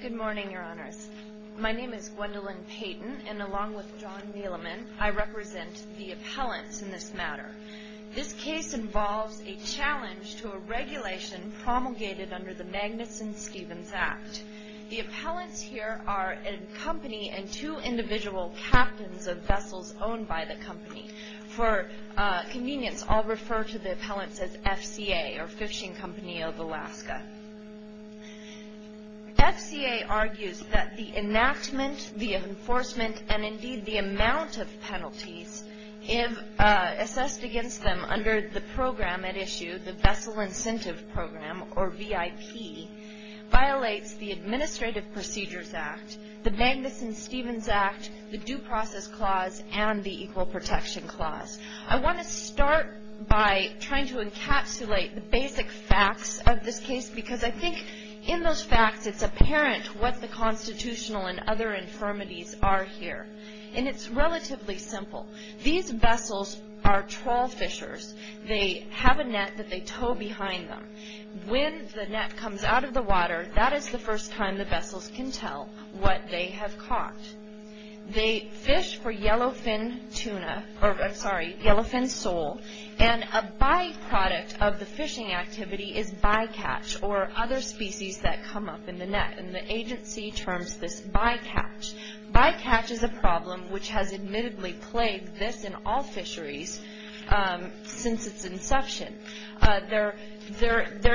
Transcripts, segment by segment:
Good morning, Your Honors. My name is Gwendolyn Payton, and along with John Neeleman, I represent the appellants in this matter. This case involves a challenge to a regulation promulgated under the Magnuson-Stevens Act. The appellants here are a company and two individual captains of vessels owned by the company. For convenience, I'll refer to the appellants as FCA, or Fishing Company of Alaska. FCA argues that the enactment, the enforcement, and indeed the amount of penalties assessed against them under the program at issue, the Vessel Incentive Program, or VIP, violates the Administrative Procedures Act, the Magnuson-Stevens Act, the Due Process Clause, and the Equal Protection Clause. I want to start by trying to encapsulate the basic facts of this case, because I think in those facts, it's apparent what the constitutional and other infirmities are here. And it's relatively simple. These vessels are trawl fishers. They have a net that they tow behind them. When the net comes out of the water, that is the first time the vessels can tell what they have caught. They fish for yellowfin tuna, or I'm sorry, yellowfin sole, and a byproduct of the fishing activity is bycatch, or other species that come up in the net. And the agency terms this bycatch. Bycatch is a problem which has admittedly plagued this and all fisheries since its inception. There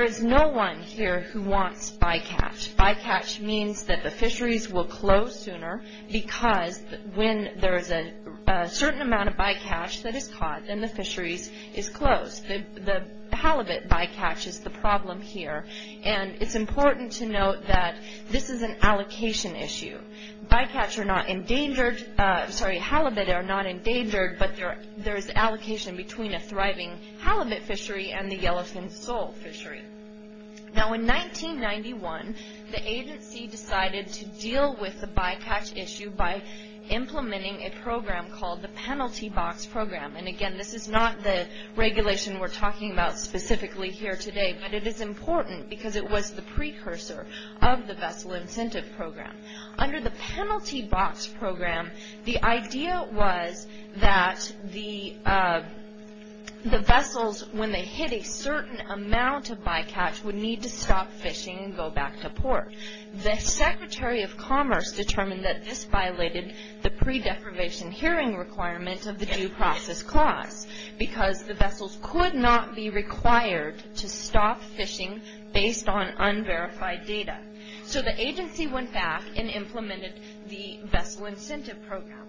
is no one here who wants bycatch. Bycatch means that the fisheries will close sooner, because when there is a certain amount of bycatch that is caught, then the fisheries is closed. The halibut bycatch is the problem here. And it's important to note that this is an allocation issue. Halibut are not endangered, but there is allocation between a thriving halibut fishery and the yellowfin sole fishery. Now, in 1991, the agency decided to deal with the bycatch issue by implementing a program called the Penalty Box Program. And again, this is not the regulation we're talking about specifically here today, but it is important because it was the precursor of the Vessel Incentive Program. Under the Penalty Box Program, the idea was that the vessels, when they hit a certain amount of bycatch, would need to stop fishing and go back to port. The Secretary of Commerce determined that this violated the pre-deprivation hearing requirement of the due process clause, because the vessels could not be required to stop fishing based on unverified data. So the agency went back and implemented the Vessel Incentive Program.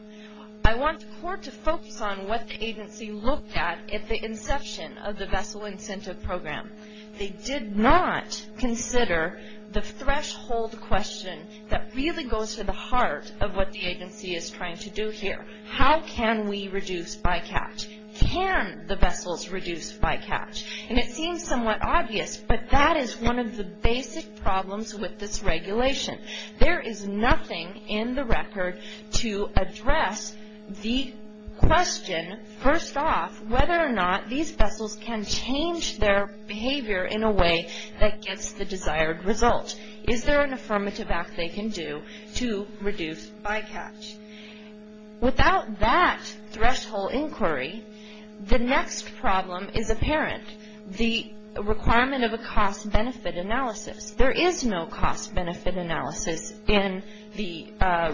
I want the court to focus on what the agency looked at at the inception of the Vessel Incentive Program. They did not consider the threshold question that really goes to the heart of what the agency is trying to do here. How can we reduce bycatch? Can the vessels reduce bycatch? And it seems somewhat obvious, but that is one of the basic problems with this regulation. There is nothing in the record to address the question, first off, whether or not these vessels can change their behavior in a way that gets the desired result. Is there an affirmative act they can do to reduce bycatch? Without that threshold inquiry, the next problem is apparent, the requirement of a cost-benefit analysis. There is no cost-benefit analysis in the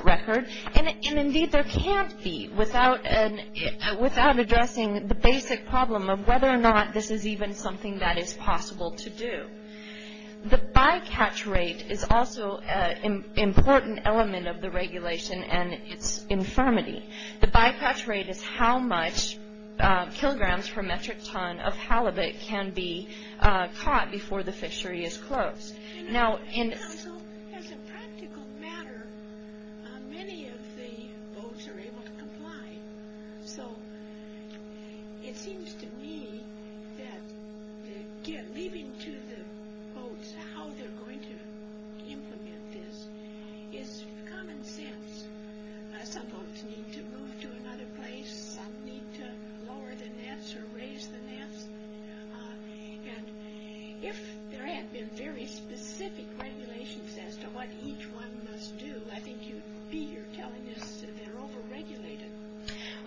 record, and indeed there can't be without addressing the basic problem of whether or not this is even something that is possible to do. The bycatch rate is also an important element of the regulation and its infirmity. The bycatch rate is how much kilograms per metric ton of halibut can be caught before the fishery is closed. Now, as a practical matter, many of the boats are able to comply. So it seems to me that leaving to the boats how they're going to implement this is common sense. Some boats need to move to another place, some need to lower the nets or raise the nets. And if there had been very specific regulations as to what each one must do, I think you'd be here telling us they're over-regulated.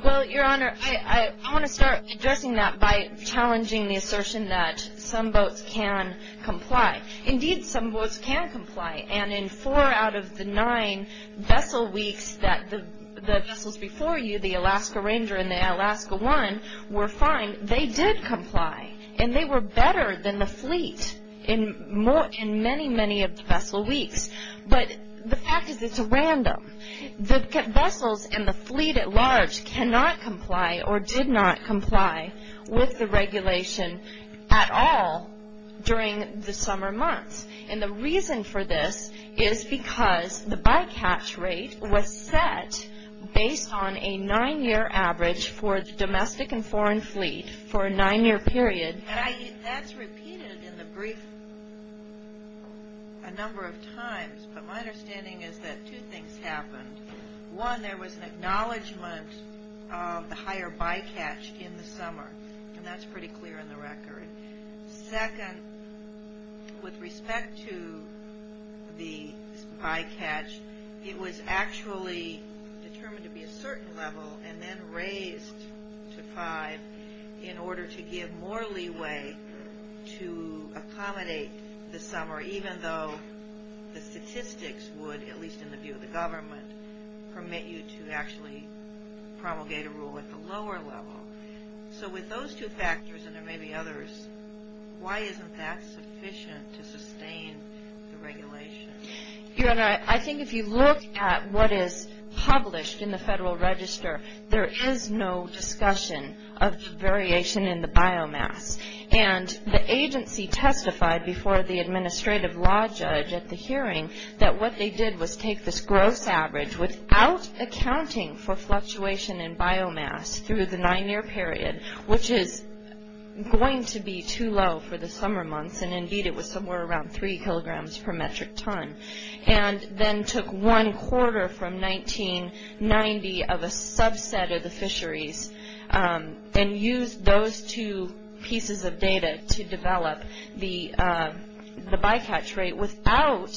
Well, Your Honor, I want to start addressing that by challenging the assertion that some boats can comply. Indeed, some boats can comply, and in four out of the nine vessel weeks that the vessels before you, the Alaska Ranger and the Alaska One, were fine, they did comply. And they were better than the fleet in many, many of the vessel weeks. But the fact is it's random. The vessels and the fleet at large cannot comply or did not comply with the regulation at all during the summer months. And the reason for this is because the bycatch rate was set based on a nine-year average for the domestic and foreign fleet for a nine-year period. That's repeated in the brief a number of times, but my understanding is that two things happened. One, there was an acknowledgment of the higher bycatch in the summer, and that's pretty clear in the record. Second, with respect to the bycatch, it was actually determined to be a certain level and then raised to five in order to give more leeway to accommodate the summer, even though the statistics would, at least in the view of the government, permit you to actually promulgate a rule at the lower level. So with those two factors, and there may be others, why isn't that sufficient to sustain the regulation? Your Honor, I think if you look at what is published in the Federal Register, there is no discussion of variation in the biomass. And the agency testified before the administrative law judge at the hearing that what they did was take this gross average without accounting for fluctuation in biomass through the nine-year period, which is going to be too low for the summer months, and indeed it was somewhere around three kilograms per metric ton, and then took one quarter from 1990 of a subset of the fisheries and used those two pieces of data to develop the bycatch rate without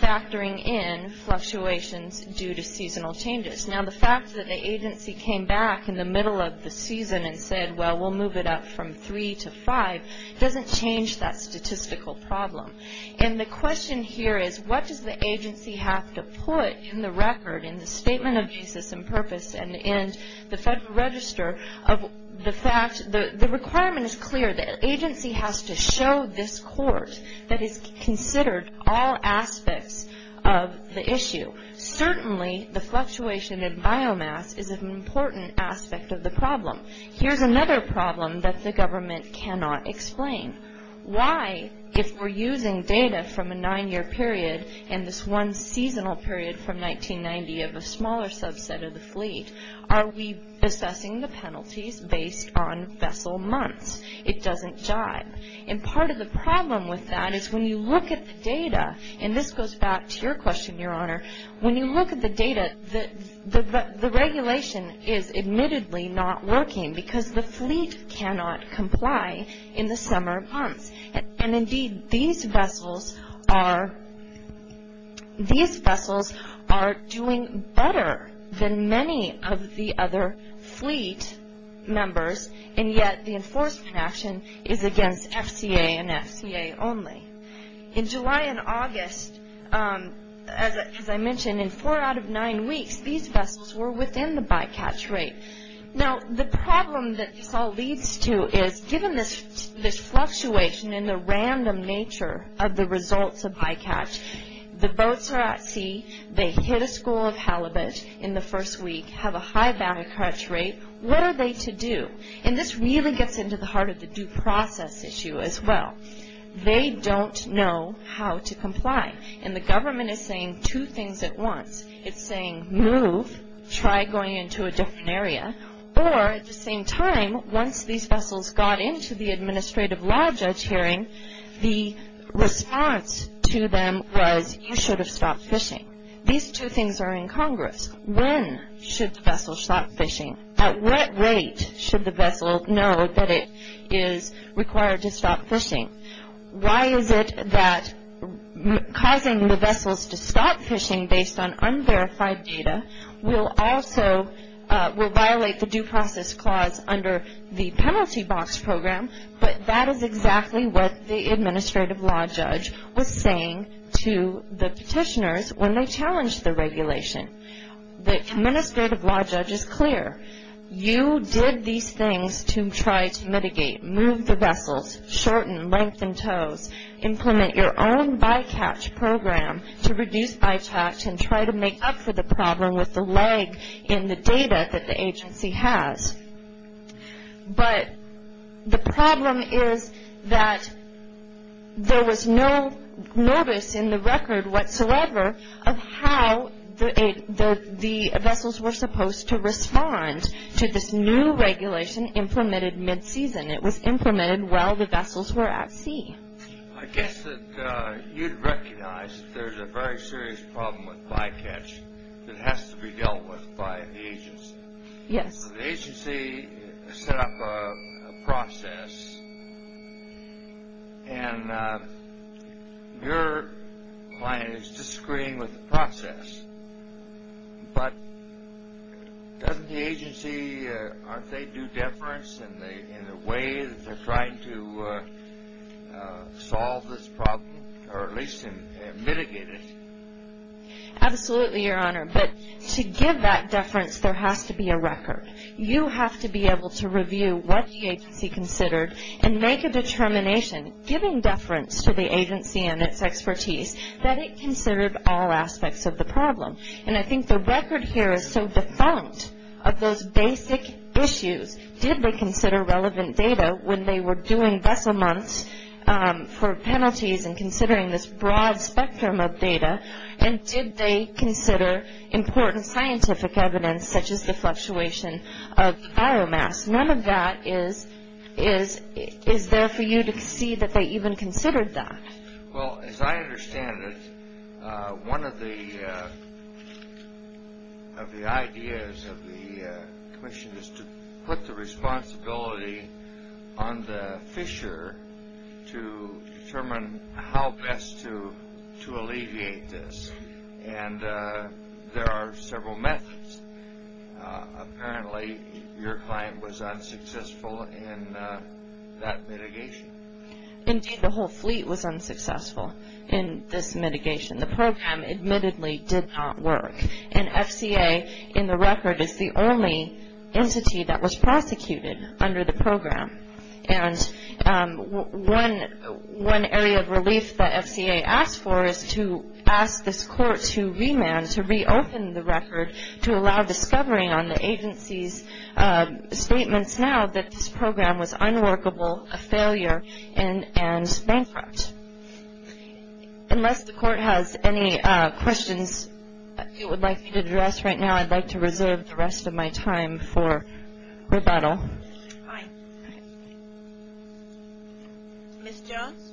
factoring in fluctuations due to seasonal changes. Now the fact that the agency came back in the middle of the season and said, well, we'll move it up from three to five, doesn't change that statistical problem. And the question here is what does the agency have to put in the record, in the Statement of Uses and Purpose and in the Federal Register, of the fact that the requirement is clear. The agency has to show this court that it's considered all aspects of the issue. Certainly the fluctuation in biomass is an important aspect of the problem. Here's another problem that the government cannot explain. Why, if we're using data from a nine-year period and this one seasonal period from 1990 of a smaller subset of the fleet, are we assessing the penalties based on vessel months? It doesn't jive. And part of the problem with that is when you look at the data, and this goes back to your question, Your Honor, when you look at the data, the regulation is admittedly not working because the fleet cannot comply in the summer months. And indeed, these vessels are doing better than many of the other fleet members, and yet the enforcement action is against FCA and FCA only. In July and August, as I mentioned, in four out of nine weeks, these vessels were within the bycatch rate. Now, the problem that this all leads to is, given this fluctuation in the random nature of the results of bycatch, the boats are at sea, they hit a school of halibut in the first week, have a high bounty catch rate, what are they to do? And this really gets into the heart of the due process issue as well. They don't know how to comply. And the government is saying two things at once. It's saying, move, try going into a different area. Or at the same time, once these vessels got into the administrative law judge hearing, the response to them was, you should have stopped fishing. These two things are incongruous. When should the vessel stop fishing? At what rate should the vessel know that it is required to stop fishing? Why is it that causing the vessels to stop fishing based on unverified data will also, will violate the due process clause under the penalty box program, but that is exactly what the administrative law judge was saying to the petitioners when they challenged the regulation. The administrative law judge is clear. You did these things to try to mitigate, move the vessels, shorten, lengthen tows, implement your own by-catch program to reduce by-catch and try to make up for the problem with the lag in the data that the agency has. But the problem is that there was no notice in the record whatsoever of how the vessels were supposed to respond to this new regulation implemented mid-season. It was implemented while the vessels were at sea. I guess that you'd recognize that there's a very serious problem with by-catch The agency set up a process, and your client is just agreeing with the process, but doesn't the agency, aren't they due deference in the way that they're trying to solve this problem or at least mitigate it? Absolutely, Your Honor. But to give that deference, there has to be a record. You have to be able to review what the agency considered and make a determination giving deference to the agency and its expertise that it considered all aspects of the problem. And I think the record here is so defunct of those basic issues. Did they consider relevant data when they were doing vessel months for penalties and considering this broad spectrum of data? And did they consider important scientific evidence such as the fluctuation of biomass? None of that is there for you to see that they even considered that. Well, as I understand it, one of the ideas of the commission is to put the responsibility on the fisher to determine how best to alleviate this. And there are several methods. Apparently, your client was unsuccessful in that mitigation. Indeed, the whole fleet was unsuccessful in this mitigation. The program admittedly did not work. And FCA, in the record, is the only entity that was prosecuted under the program. And one area of relief that FCA asked for is to ask this court to remand, to reopen the record, to allow discovery on the agency's statements now that this program was unworkable, a failure, and bankrupt. Unless the court has any questions it would like to address right now, I'd like to reserve the rest of my time for rebuttal. All right. Thank you. Thank you. Thank you. Thank you. Thank you. Thank you. Thank you. Thank you.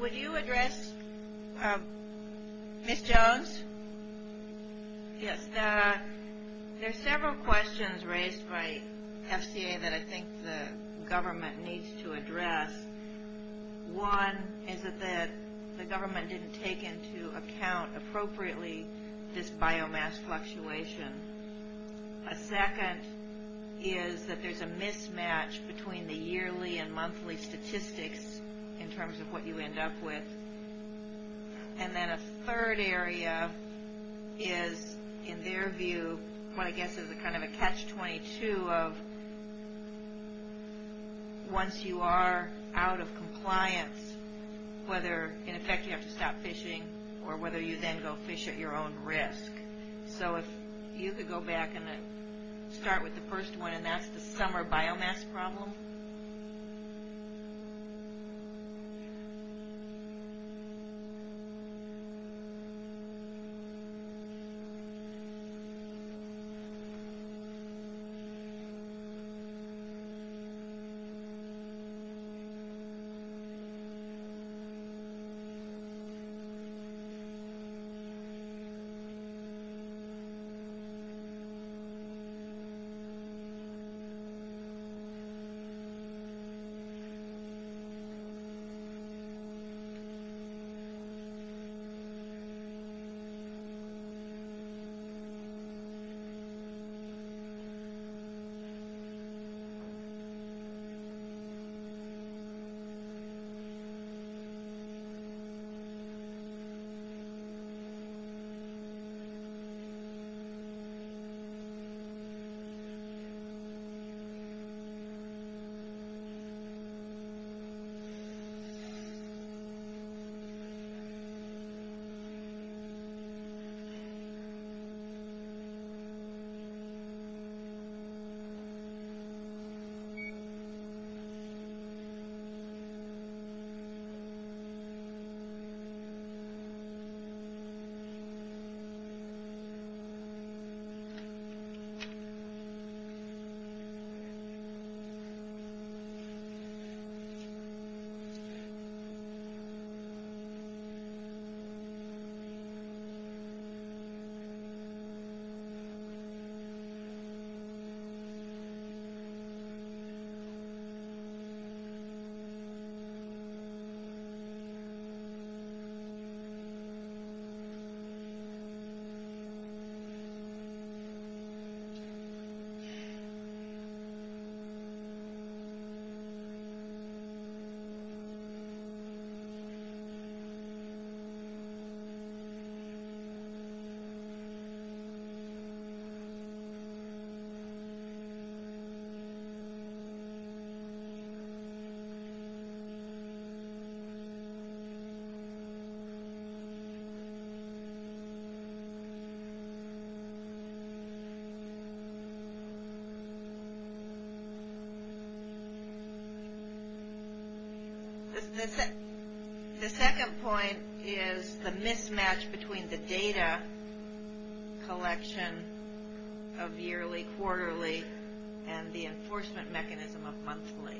Would you address Ms. Jones? Yes. There are several questions raised by FCA that I think the government needs to address. One is that the government didn't take into account appropriately this biomass fluctuation. A second is that there's a mismatch between the yearly and monthly statistics in terms of what you end up with. And then a third area is, in their view, what I guess is kind of a catch-22 of once you are out of compliance, whether in effect you have to stop fishing or whether you then go fish at your own risk. So if you could go back and start with the first one, and that's the summer biomass problem. Thank you. Thank you. Thank you. Thank you. Thank you. The second point is the mismatch between the data collection of yearly, quarterly, and the enforcement mechanism of monthly.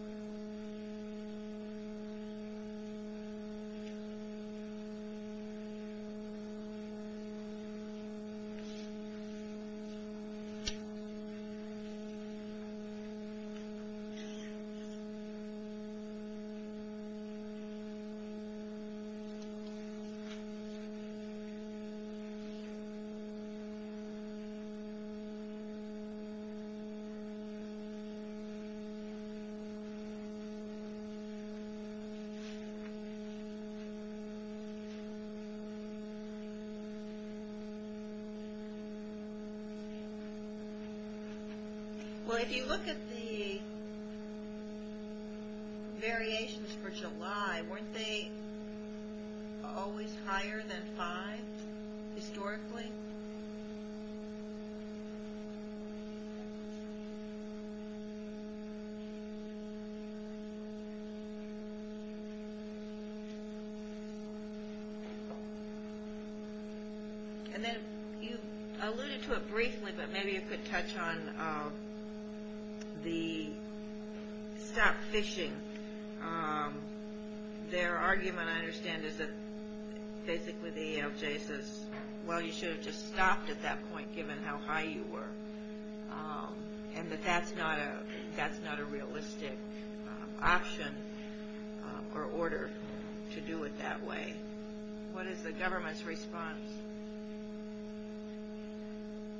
Thank you. Thank you. Thank you. Thank you. Thank you. Weren't they always higher than five, historically? Thank you. And then you alluded to it briefly, but maybe you could touch on the stop fishing. Their argument, I understand, is that basically the EEOJ says, well, you should have just stopped at that point given how high you were, and that that's not a realistic option or order to do it that way. What is the government's response? Thank you. Thank you. Thank you. Thank you.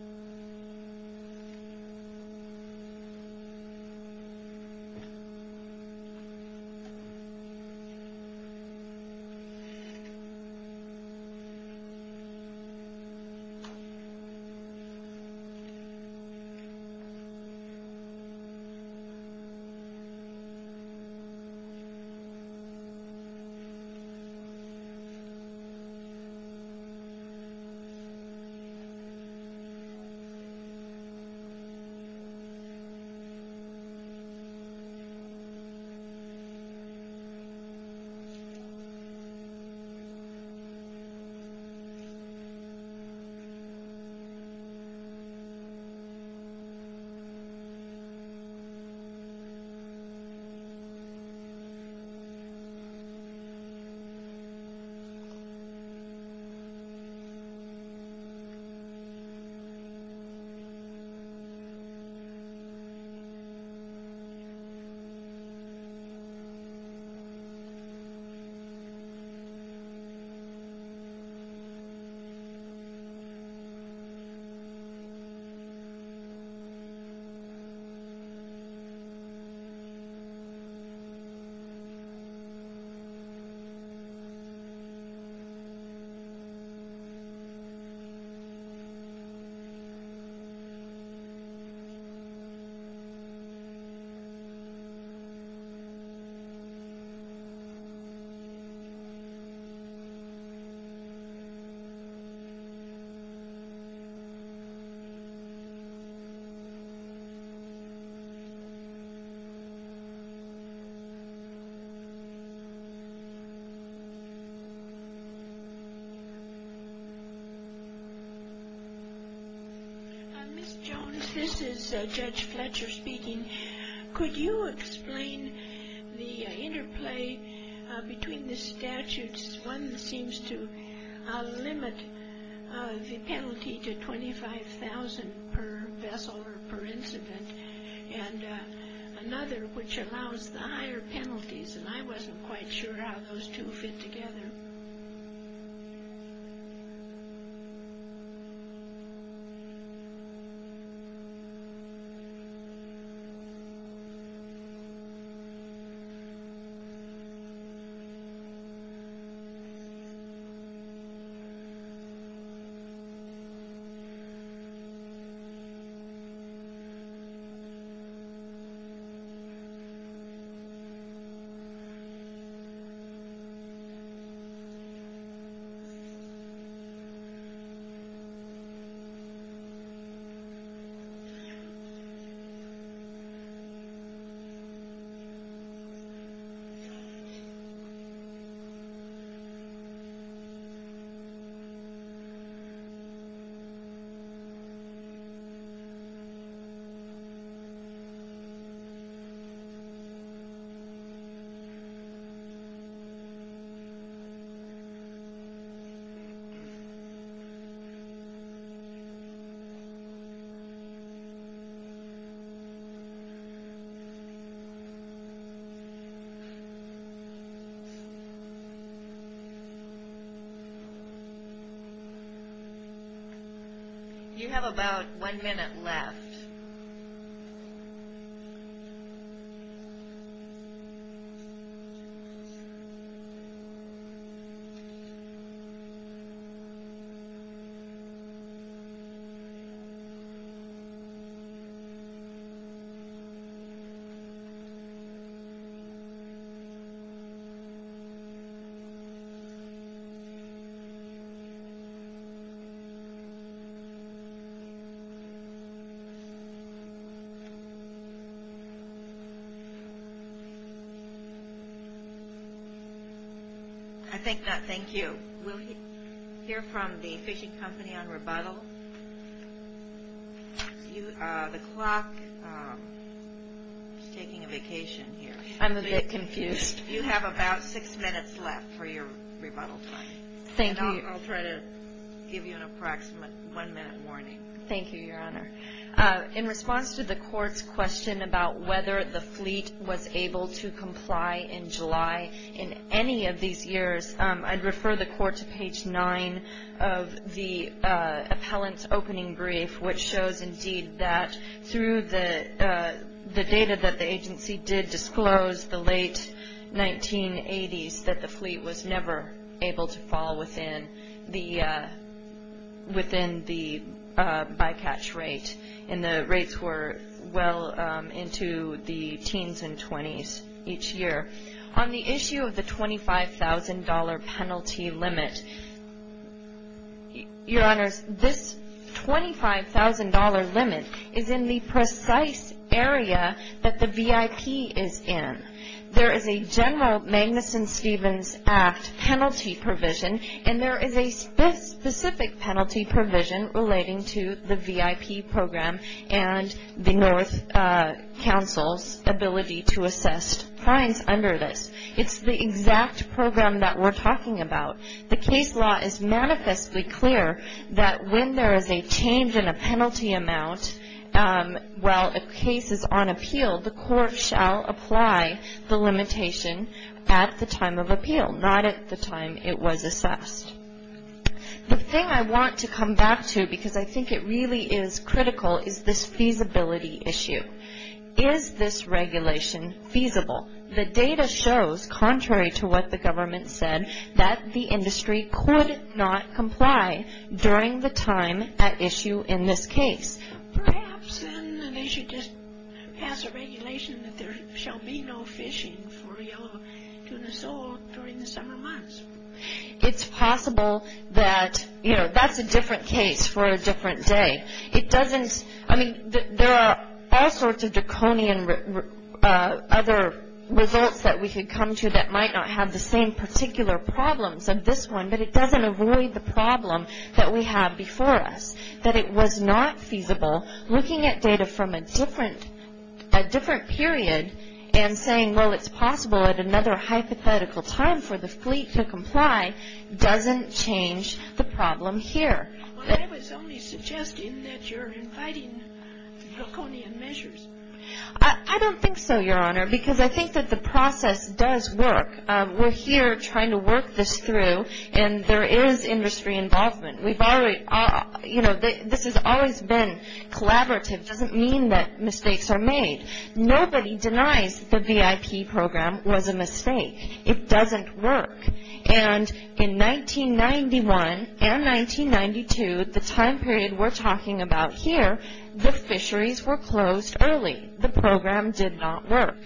Ms. Jones, this is Judge Fletcher speaking. Could you explain the interplay between the statutes? One seems to limit the penalty to $25,000 per vessel or per incident, and another which allows the higher penalties, and I wasn't quite sure how those two fit together. Thank you. Thank you. You have about one minute left. Two minutes. I think that, thank you. We'll hear from the fishing company on rebuttal. The clock is taking a vacation here. I'm a bit confused. You have about six minutes left for your rebuttal time. Thank you. And I'll try to give you an approximate one-minute warning. Thank you, Your Honor. In response to the Court's question about whether the fleet was able to comply in July in any of these years, I'd refer the Court to page 9 of the appellant's opening brief, which shows indeed that through the data that the agency did disclose the late 1980s, that the fleet was never able to fall within the bycatch rate, and the rates were well into the teens and 20s each year. On the issue of the $25,000 penalty limit, Your Honors, this $25,000 limit is in the precise area that the VIP is in. There is a general Magnuson-Stevens Act penalty provision, and there is a specific penalty provision relating to the VIP program and the North Council's ability to assess fines under this. It's the exact program that we're talking about. The case law is manifestly clear that when there is a change in a penalty amount, while a case is on appeal, the Court shall apply the limitation at the time of appeal, not at the time it was assessed. The thing I want to come back to, because I think it really is critical, is this feasibility issue. Is this regulation feasible? The data shows, contrary to what the government said, that the industry could not comply during the time at issue in this case. Perhaps then they should just pass a regulation that there shall be no fishing for yellow tuna sold during the summer months. It's possible that, you know, that's a different case for a different day. It doesn't, I mean, there are all sorts of draconian other results that we could come to that might not have the same particular problems of this one, but it doesn't avoid the problem that we have before us, that it was not feasible looking at data from a different period and saying, well, it's possible at another hypothetical time for the fleet to comply, doesn't change the problem here. Well, I was only suggesting that you're inviting draconian measures. I don't think so, Your Honor, because I think that the process does work. We're here trying to work this through, and there is industry involvement. We've already, you know, this has always been collaborative. It doesn't mean that mistakes are made. Nobody denies the VIP program was a mistake. It doesn't work. And in 1991 and 1992, the time period we're talking about here, the fisheries were closed early. The program did not work.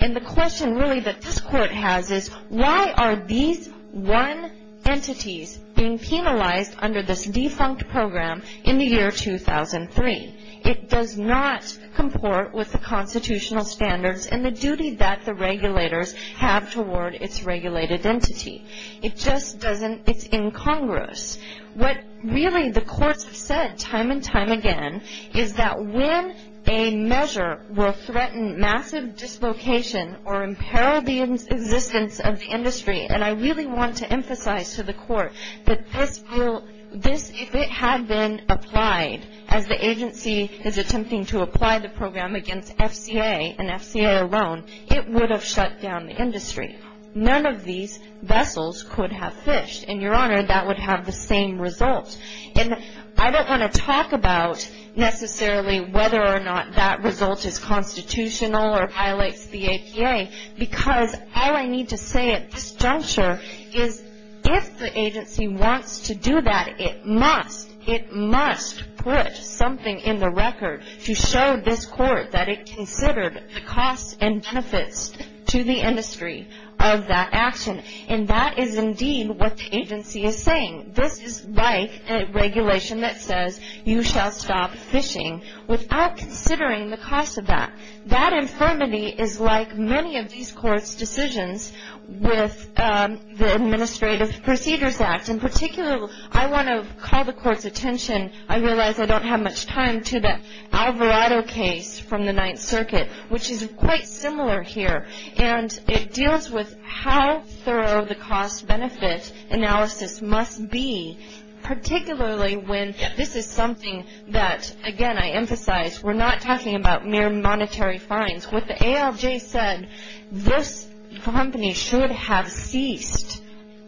And the question really that this Court has is, why are these one entities being penalized under this defunct program in the year 2003? It does not comport with the constitutional standards and the duty that the regulators have toward its regulated entity. It just doesn't, it's incongruous. What really the courts have said time and time again is that when a measure will threaten massive dislocation or imperil the existence of the industry, and I really want to emphasize to the Court that this will, this, if it had been applied, as the agency is attempting to apply the program against FCA and FCA alone, it would have shut down the industry. None of these vessels could have fished, and, Your Honor, that would have the same result. And I don't want to talk about necessarily whether or not that result is constitutional or violates the APA because all I need to say at this juncture is if the agency wants to do that, it must, it must put something in the record to show this Court that it considered the costs and benefits to the industry of that action. And that is indeed what the agency is saying. This is like a regulation that says you shall stop fishing without considering the cost of that. That infirmity is like many of these courts' decisions with the Administrative Procedures Act. In particular, I want to call the Court's attention, I realize I don't have much time, to the Alvarado case from the Ninth Circuit, which is quite similar here, and it deals with how thorough the cost-benefit analysis must be, particularly when this is something that, again, I emphasize, we're not talking about mere monetary fines. What the ALJ said, this company should have ceased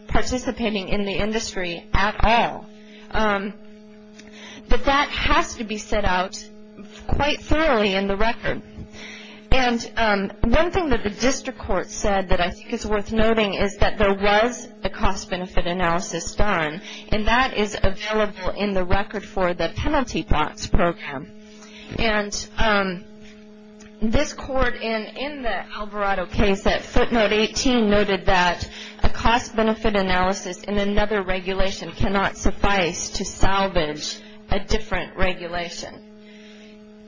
participating in the industry at all. But that has to be set out quite thoroughly in the record. And one thing that the District Court said that I think is worth noting is that there was a cost-benefit analysis done, and that is available in the record for the Penalty Plots Program. And this Court in the Alvarado case at footnote 18 noted that a cost-benefit analysis in another regulation cannot suffice to salvage a different regulation.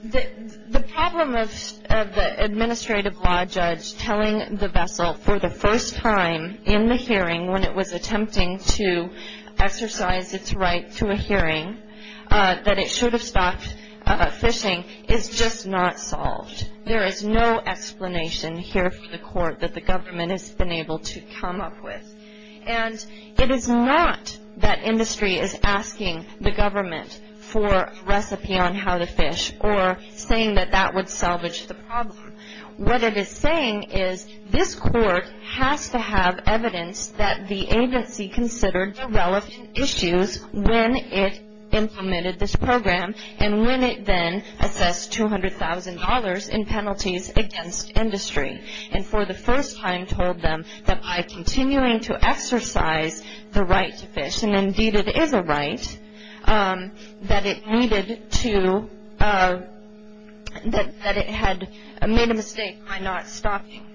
The problem of the administrative law judge telling the vessel for the first time in the hearing when it was attempting to exercise its right to a hearing that it should have stopped fishing is just not solved. There is no explanation here for the Court that the government has been able to come up with. And it is not that industry is asking the government for a recipe on how to fish or saying that that would salvage the problem. What it is saying is this Court has to have evidence that the agency considered relevant issues when it implemented this program and when it then assessed $200,000 in penalties against industry. And for the first time told them that by continuing to exercise the right to fish, and indeed it is a right, that it needed to, that it had made a mistake by not stopping.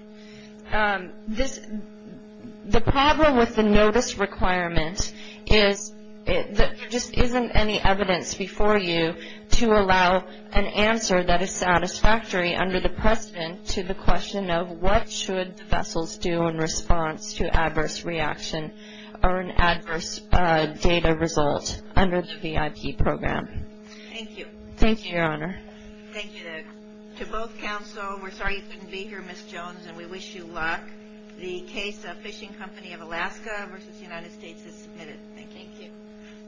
The problem with the notice requirement is that there just isn't any evidence before you to allow an answer that is satisfactory under the precedent to the question of what should the vessels do in response to adverse reaction or an adverse data result under the VIP program. Thank you. Thank you, Your Honor. Thank you. To both counsel, we're sorry you couldn't be here, Ms. Jones, and we wish you luck. The case of Fishing Company of Alaska v. United States is submitted. Thank you. Thank you.